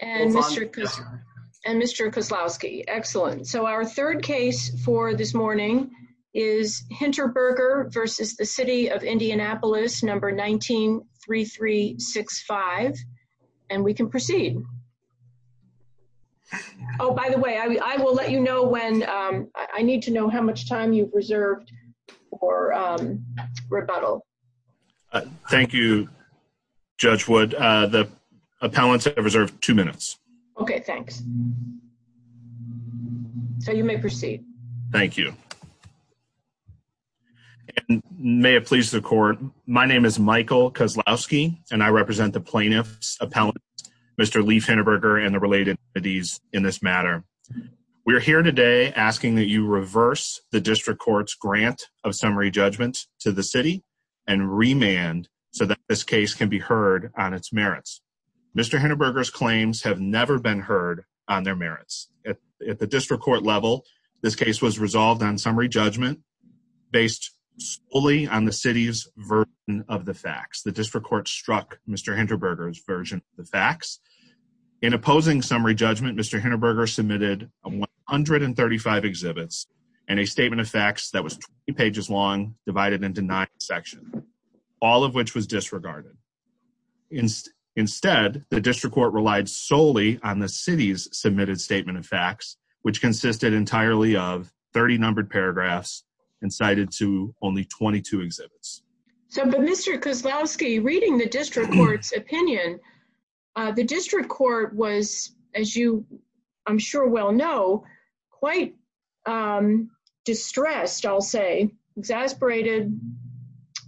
and Mr. Koslowski. Excellent. So our third case for this morning is Hinterberger versus the City of Indianapolis number 19-3365 and we can proceed. Oh by the way I will let you know when I need to know how much time you've reserved for rebuttal. Thank You Judge Wood. The appellants have reserved two minutes. Okay thanks. So you may proceed. Thank you. May it please the court my name is Michael Koslowski and I represent the plaintiffs appellant Mr. Leif Hinterberger and the related entities in this matter. We are here today asking that you reverse the district court's grant of summary judgment to the city and remand so that this case can be heard on its merits. Mr. Hinterberger's claims have never been heard on their merits. At the district court level this case was resolved on summary judgment based solely on the city's version of the facts. The district court struck Mr. Hinterberger's version the facts. In opposing summary judgment Mr. Hinterberger submitted 135 exhibits and a statement of facts that was two pages long divided into nine sections. All of which was disregarded. Instead the district court relied solely on the city's submitted statement of facts which consisted entirely of 30 numbered paragraphs and cited to only 22 exhibits. So Mr. Koslowski reading the district court's opinion the district court was as you I'm sure well know quite distressed I'll say exasperated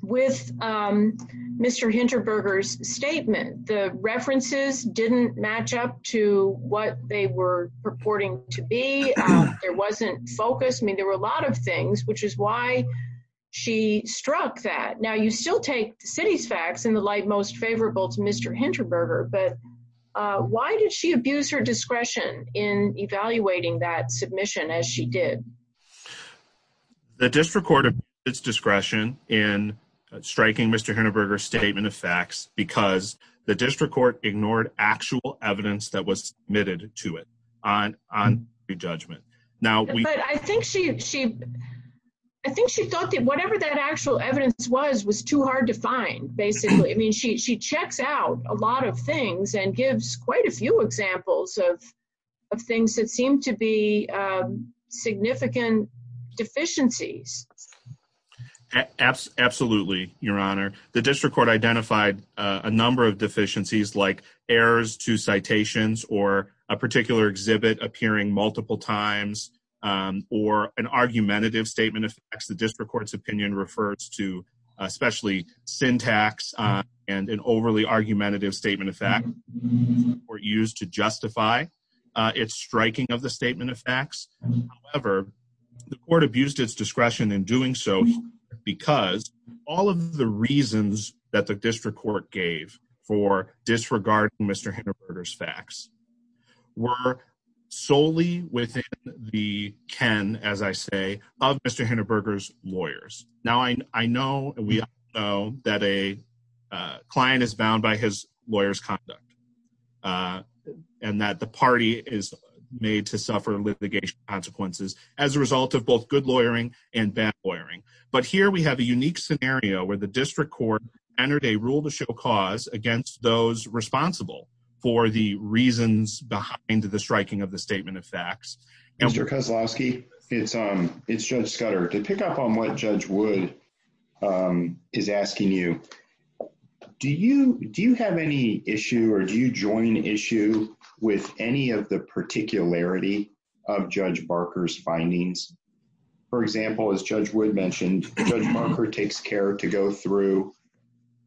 with Mr. Hinterberger's statement. The references didn't match up to what they were purporting to be. There wasn't focus I mean there were a lot of things which is why she struck that. Now you still take the city's facts in the light most favorable to Mr. Hinterberger but why did she abuse her discretion in evaluating that submission as she did? The district court of its discretion in striking Mr. Hinterberger statement of facts because the district court ignored actual evidence that was submitted to it on on your judgment. Now I think she I think she thought that whatever that actual evidence was was too hard to find basically I mean she checks out a lot of things and gives quite a few examples of things that seem to be significant deficiencies. Absolutely your honor the district court identified a number of deficiencies like errors to citations or a particular exhibit appearing multiple times or an argumentative statement of facts the to especially syntax and an overly argumentative statement of fact were used to justify its striking of the statement of facts. However the court abused its discretion in doing so because all of the reasons that the district court gave for disregarding Mr. Hinterberger's facts were solely within the ken as I say of Mr. Hinterberger's lawyers. Now I know we know that a client is bound by his lawyer's conduct uh and that the party is made to suffer litigation consequences as a result of both good lawyering and bad lawyering. But here we have a unique scenario where the district court entered a rule to show cause against those responsible for the reasons behind the striking of the statement of facts. Mr. Kozlowski it's um it's Judge Scudder to pick up on what Judge Wood um is asking you do you do you have any issue or do you join issue with any of the particularity of Judge Barker's findings? For example as Judge Wood mentioned Judge Barker takes care to go through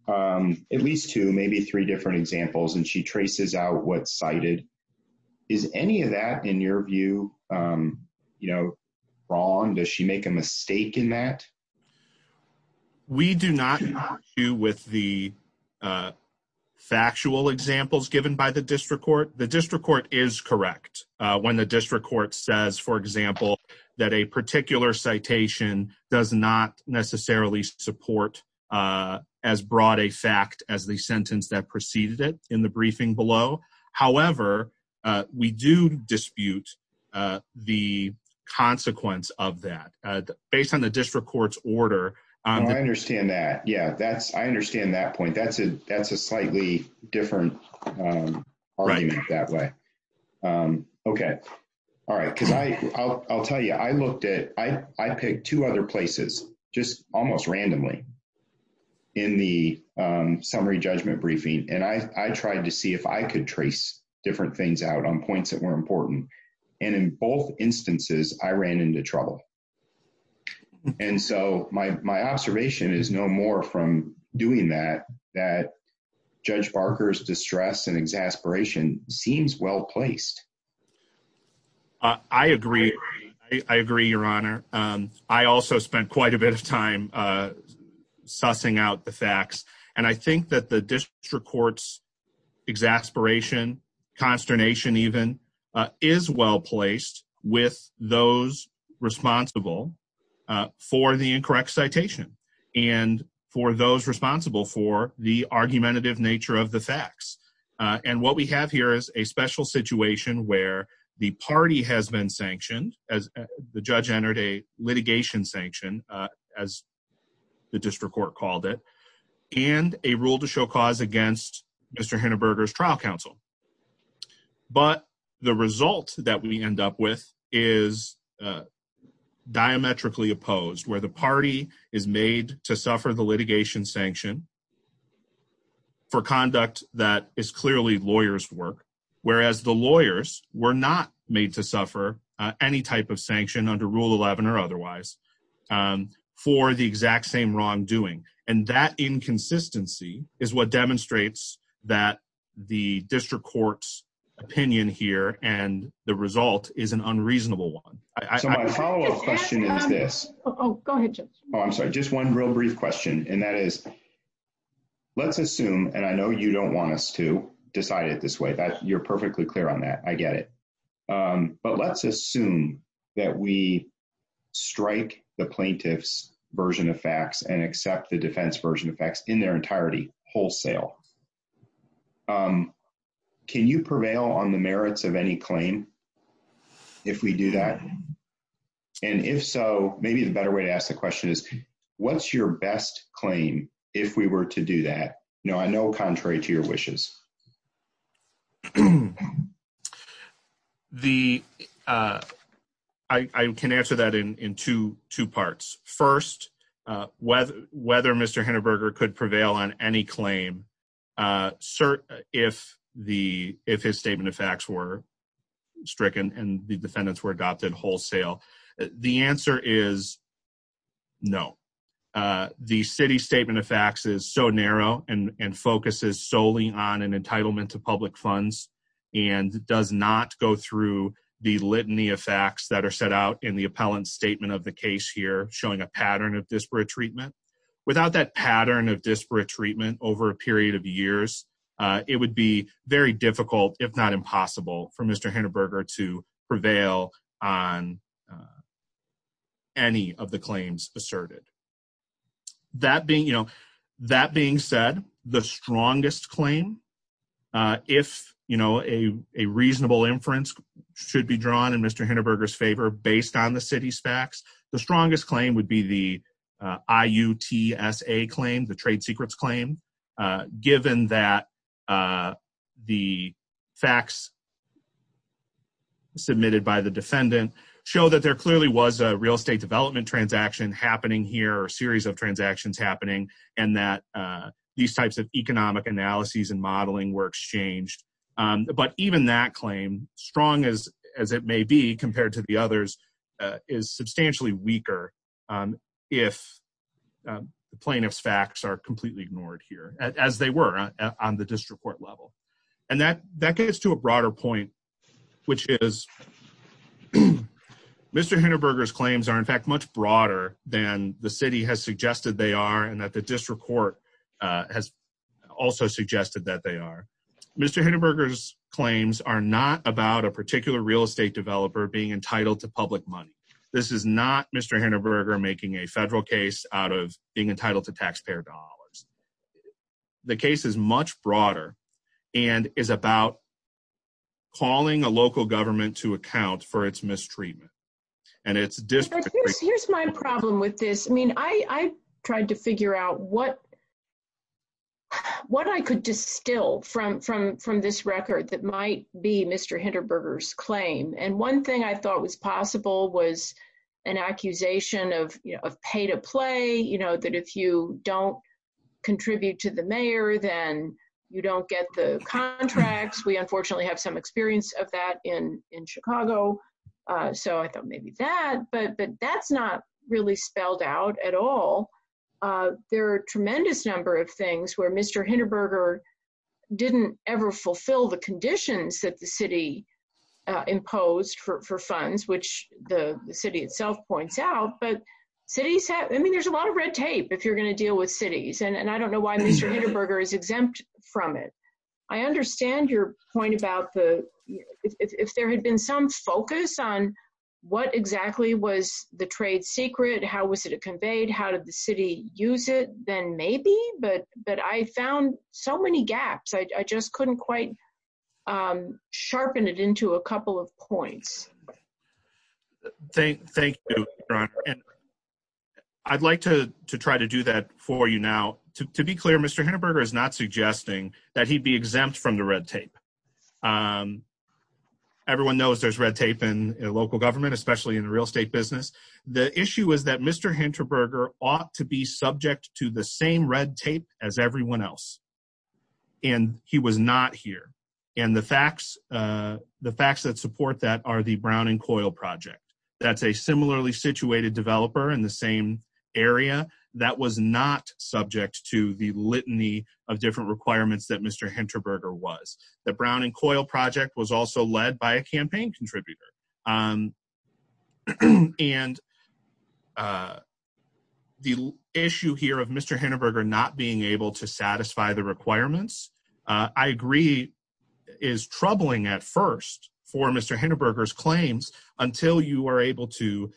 um at least two maybe three different examples and she traces out what cited is any of that in your view um you know wrong? Does she make a mistake in that? We do not do with the factual examples given by the district court. The district court is correct when the district court says for example that a particular citation does not necessarily support uh as broad a fact as the sentence that briefing below. However we do dispute the consequence of that based on the district court's order. I understand that yeah that's I understand that point that's a that's a slightly different argument that way. Okay all right cuz I I'll tell you I looked at I I picked two other places just almost randomly in the summary judgment briefing and I I tried to see if I could trace different things out on points that were important and in both instances I ran into trouble and so my my observation is no more from doing that that Judge Barker's distress and exasperation seems well-placed. I agree I agree your honor I also spent quite a And I think that the district court's exasperation consternation even is well-placed with those responsible for the incorrect citation and for those responsible for the argumentative nature of the facts and what we have here is a special situation where the party has been sanctioned as the judge entered a rule to show cause against Mr. Hindenburgers trial counsel but the result that we end up with is diametrically opposed where the party is made to suffer the litigation sanction for conduct that is clearly lawyers work whereas the lawyers were not made to suffer any type of sanction under rule 11 or otherwise for the exact same wrongdoing and that inconsistency is what demonstrates that the district court's opinion here and the result is an unreasonable one I'm sorry just one real brief question and that is let's assume and I know you don't want us to decide it this way that you're perfectly clear on that I get it but let's assume that we strike the plaintiffs version of facts and accept the defense version of facts in their entirety wholesale can you prevail on the merits of any claim if we do that and if so maybe the better way to ask the question is what's your best claim if we were to do that no I know contrary to your wishes the I can answer that in two two parts first whether whether mr. Hindenburger could prevail on any claim sir if the if his statement of facts were stricken and the defendants were adopted wholesale the answer is no the city statement of facts is so narrow and and focuses solely on an entitlement to public funds and does not go through the litany of facts that are set out in the appellant statement of the case here showing a pattern of disparate treatment without that pattern of disparate treatment over a period of years it would be very difficult if not impossible for mr. Hindenburger to prevail on any of the claims asserted that being you know that being said the strongest claim if you know a reasonable inference should be drawn in mr. Hindenburger's favor based on the city's facts the strongest claim would be the I UTS a claim the trade secrets claim given that the facts submitted by the defendant show that there clearly was a real estate development transaction happening here or series of transactions happening and that these types of economic analyses and modeling were exchanged but even that claim strong as as it may be compared to the others is substantially weaker if the plaintiffs facts are completely ignored here as they were on the district court level and that that gets to a broader point which is mr. Hindenburger's claims are in fact much broader than the city has suggested they are and that the district court has also suggested that they are mr. Hindenburger's claims are not about a particular real estate developer being entitled to public money this is not mr. Hindenburger making a federal case out of being entitled to taxpayer dollars the case is much broader and is about calling a local government to account for its mistreatment and it's just here's my problem with this I mean I tried to figure out what what I could distill from from from this record that might be mr. Hindenburger's claim and one thing I thought was possible was an accusation of you know of pay-to-play you know that if you don't contribute to the mayor then you don't get the contracts we unfortunately have some experience of that in in Chicago so I thought maybe that but but that's not really spelled out at all there are tremendous number of things where mr. Hindenburger didn't ever fulfill the conditions that the which the city itself points out but cities have I mean there's a lot of red tape if you're gonna deal with cities and and I don't know why mr. Hindenburger is exempt from it I understand your point about the if there had been some focus on what exactly was the trade secret how was it a conveyed how did the city use it then maybe but but I found so many gaps I just couldn't quite sharpen it into a couple of points thank you I'd like to try to do that for you now to be clear mr. Hindenburger is not suggesting that he'd be exempt from the red tape everyone knows there's red tape in local government especially in the real estate business the issue is that mr. Hindenburger ought to be subject to the same red tape as everyone else and he was not here and the facts the facts that support that are the Brown and Coil project that's a similarly situated developer in the same area that was not subject to the litany of different requirements that mr. Hindenburger was the Brown and Coil project was also led by a campaign contributor and the issue here of mr. Hindenburger not being able to satisfy the requirements I agree is troubling at first for mr. Hindenburgers claims until you are able to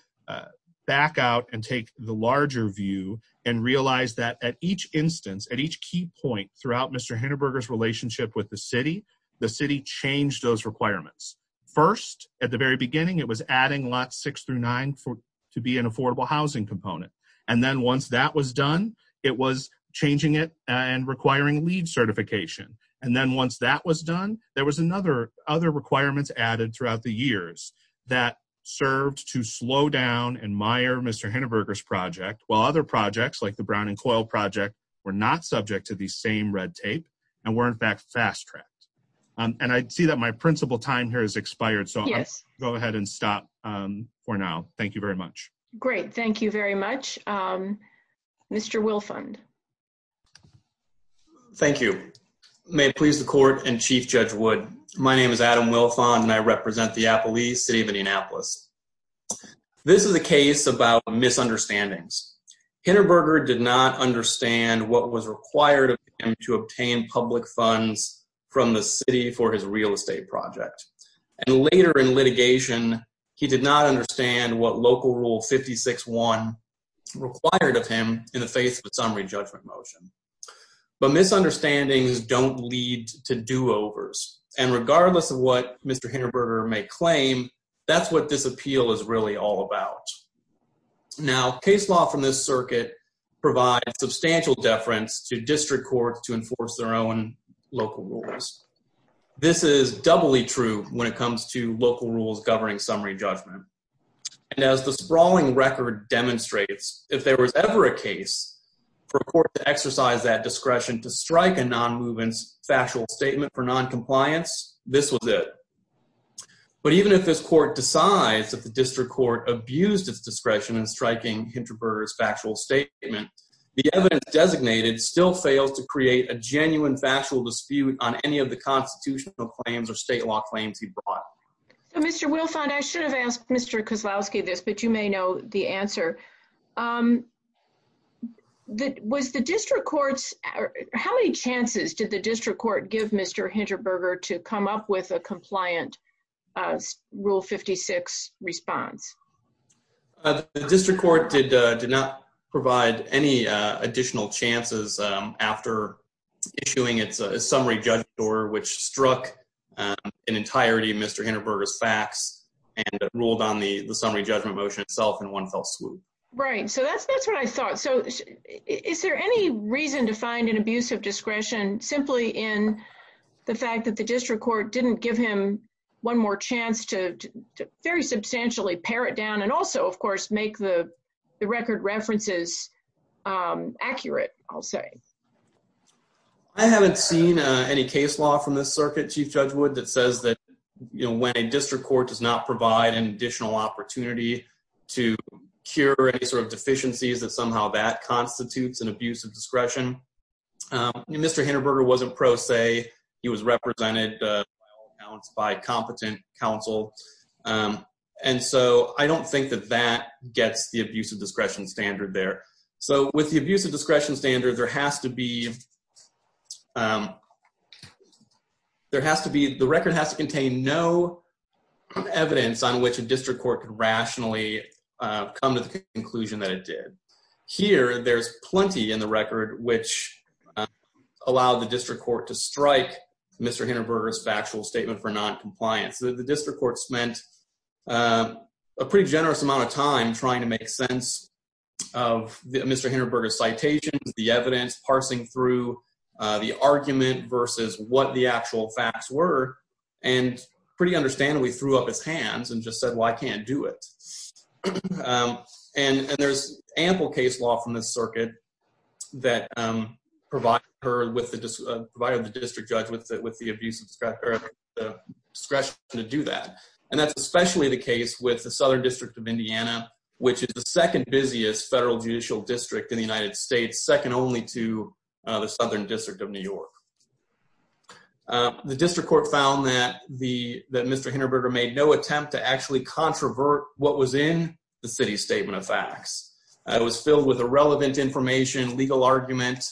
back out and take the larger view and realize that at each instance at each key point throughout mr. Hindenburgers relationship with the city the city changed those requirements first at the very beginning it was adding lot six through nine four to be an affordable housing component and then once that was done it was changing it and requiring LEED certification and then once that was done there was another other requirements added throughout the years that served to slow down and mire mr. Hindenburgers project while other projects like the Brown and Coil project were not subject to the same red tape and weren't back fast-tracked and I'd see that my principal time here is expired so yes go ahead and stop for now thank you very much great thank you very much mr. Wilfund thank you may it please the court and Chief Judge Wood my name is Adam Wilfund and I represent the Appalachee City of Indianapolis this is a case about misunderstandings Hindenburgers did not understand what was required of him to obtain public funds from the city for his real estate project and later in litigation he did not understand what local rule 56 one required of him in the face of a summary judgment motion but misunderstandings don't lead to do-overs and regardless of what mr. Hindenburgers may claim that's what this appeal is really all about now case law from this circuit provides substantial deference to district court to enforce their own local rules this is doubly true when it comes to local rules governing summary judgment and as the sprawling record demonstrates if there was ever a case for a court to exercise that discretion to strike a non-movement factual statement for non-compliance this was it but even if this court decides that the district court abused its discretion in striking Hindenburgers factual statement the evidence designated still fails to create a genuine factual dispute on any of the constitutional claims or state law claims he brought mr. Wilfund I should have asked mr. Kozlowski this but you may know the answer that was the district courts how many chances did the district court did did not provide any additional chances after issuing it's a summary judge door which struck an entirety of mr. Hindenburgers facts and ruled on the the summary judgment motion itself in one fell swoop right so that's that's what I thought so is there any reason to find an abuse of discretion simply in the fact that the district court didn't give him one more chance to very substantially pare it down and also of course make the the record references accurate I'll say I haven't seen any case law from this circuit chief judge would that says that you know when a district court does not provide an additional opportunity to cure any sort of deficiencies that somehow that constitutes an abuse of discretion mr. Hindenburger wasn't pro he was represented by competent counsel and so I don't think that that gets the abuse of discretion standard there so with the abuse of discretion standard there has to be there has to be the record has to contain no evidence on which a district court could rationally come to the conclusion that it did here there's plenty in the record which allowed the district court to strike mr. Hindenburgers factual statement for non-compliance the district court spent a pretty generous amount of time trying to make sense of mr. Hindenburgers citations the evidence parsing through the argument versus what the actual facts were and pretty understandably threw up his hands and just said well I can't do it and and there's ample case law from this circuit that provide her with the provided the district judge with that with the abuse of discretion to do that and that's especially the case with the Southern District of Indiana which is the second busiest federal judicial district in the United States second only to the Southern District of New York the district court found that the mr. Hindenburger made no attempt to actually controvert what was in the city's statement of facts it was filled with irrelevant information legal argument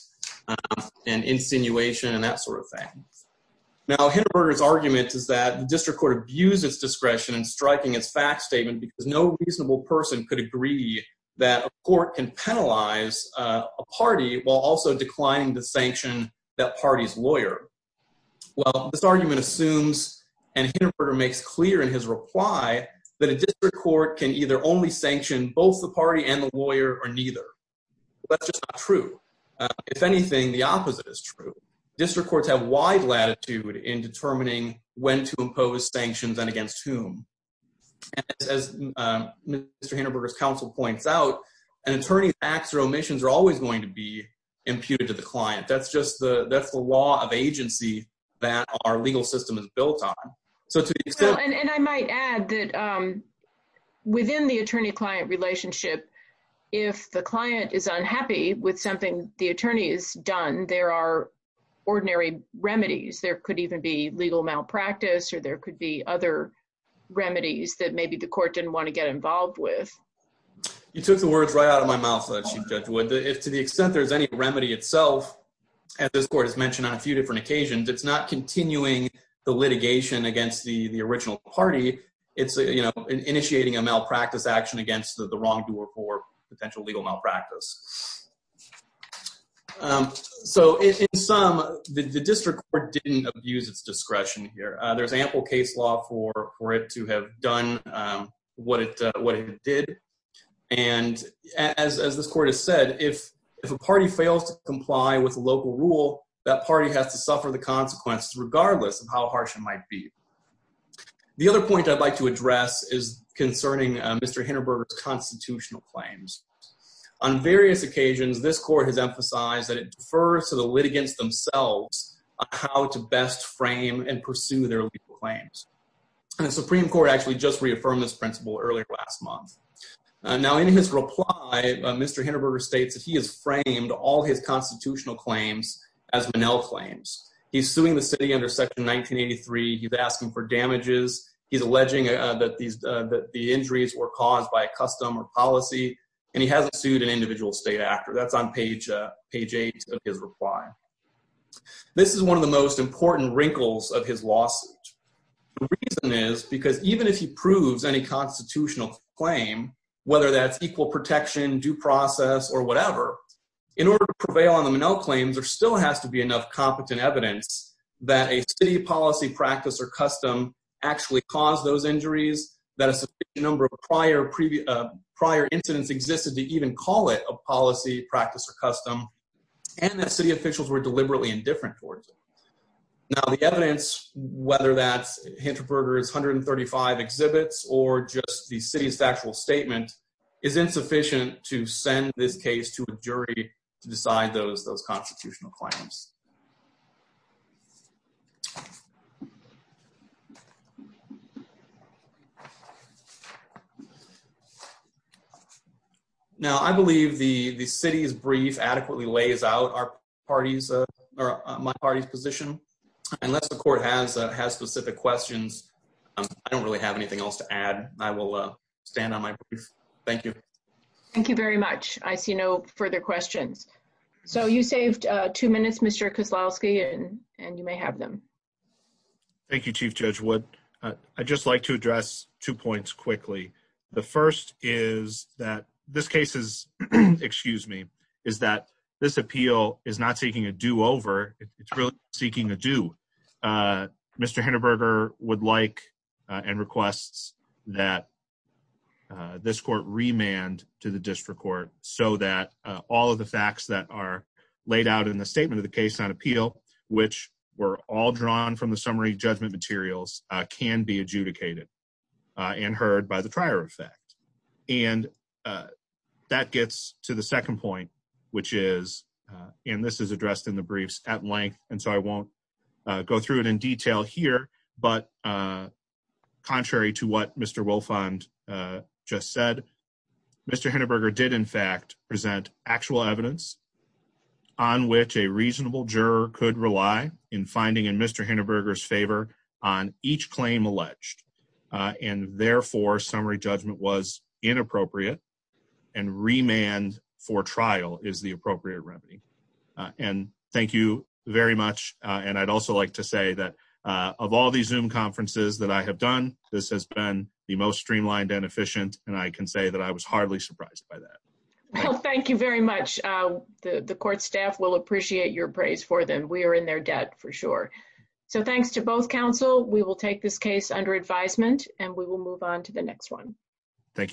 and insinuation and that sort of thing now Hindenburgers argument is that the district court abused its discretion and striking its fact statement because no reasonable person could agree that a court can penalize a party while also declining the sanction that party's lawyer well this argument assumes and Hindenburger makes clear in his reply that a district court can either only sanction both the party and the lawyer or neither that's just not true if anything the opposite is true district courts have wide latitude in determining when to impose sanctions and against whom as mr. Hindenburgers counsel points out an attorney acts or omissions are always going to be imputed to the client that's just the that's the law of agency that our legal system is built on so and I might add that within the attorney-client relationship if the client is unhappy with something the attorney is done there are ordinary remedies there could even be legal malpractice or there could be other remedies that maybe the court didn't want to get involved with you took the words right out of my mouth let's you judge would if to the extent there's any remedy itself as this court has mentioned on a few different occasions it's not continuing the litigation against the the original party it's a you know initiating a malpractice action against the wrongdoer for potential legal malpractice so in sum the district court didn't abuse its discretion here there's ample case law for it to have done what it what it did and as this court has said if if a party fails to comply with local rule that party has to suffer the consequences regardless of how harsh it might be the other point I'd like to address is concerning mr. Hindenburgers constitutional claims on various occasions this court has emphasized that it differs to the litigants themselves how to best frame and pursue their claims and the Supreme Court actually just reaffirmed this principle earlier last month now in his reply mr. Hindenburgers states that he has framed all his constitutional claims as Manel claims he's suing the city under section 1983 he's asking for damages he's alleging that these that the injuries were caused by a custom or policy and he hasn't sued an individual state actor that's on page page eight of his reply this is one of the most important wrinkles of his lawsuit is because even if he proves any constitutional claim whether that's protection due process or whatever in order to prevail on the Manel claims there still has to be enough competent evidence that a city policy practice or custom actually caused those injuries that a number of prior previous prior incidents existed to even call it a policy practice or custom and that city officials were deliberately indifferent towards it now the evidence whether that's Hindenburgers 135 exhibits or just the city's factual statement is insufficient to send this case to a jury to decide those those constitutional claims now I believe the the city is brief adequately lays out our parties or my party's position unless the court has has specific questions I don't really have anything else to add I will stand on my brief thank you thank you very much I see no further questions so you saved two minutes mr. Kozlowski and and you may have them Thank You chief judge would I just like to address two points quickly the first is that this case is excuse me is that this appeal is not seeking a do-over it's really seeking a do mr. Hindenburger would like and requests that this court remand to the district court so that all of the facts that are laid out in the statement of the case on appeal which were all drawn from the summary judgment materials can be adjudicated and heard by the trier effect and that gets to the second point which is and this is addressed in the briefs at length and so I won't go through it in detail here but contrary to what mr. will fund just said mr. Hindenburger did in fact present actual evidence on which a reasonable juror could rely in finding in mr. Hindenburgers favor on each claim alleged and therefore summary judgment was inappropriate and remand for trial is the that of all these zoom conferences that I have done this has been the most streamlined and efficient and I can say that I was hardly surprised by that well thank you very much the the court staff will appreciate your praise for them we are in their debt for sure so thanks to both counsel we will take this case under advisement and we will move on to the next one thank you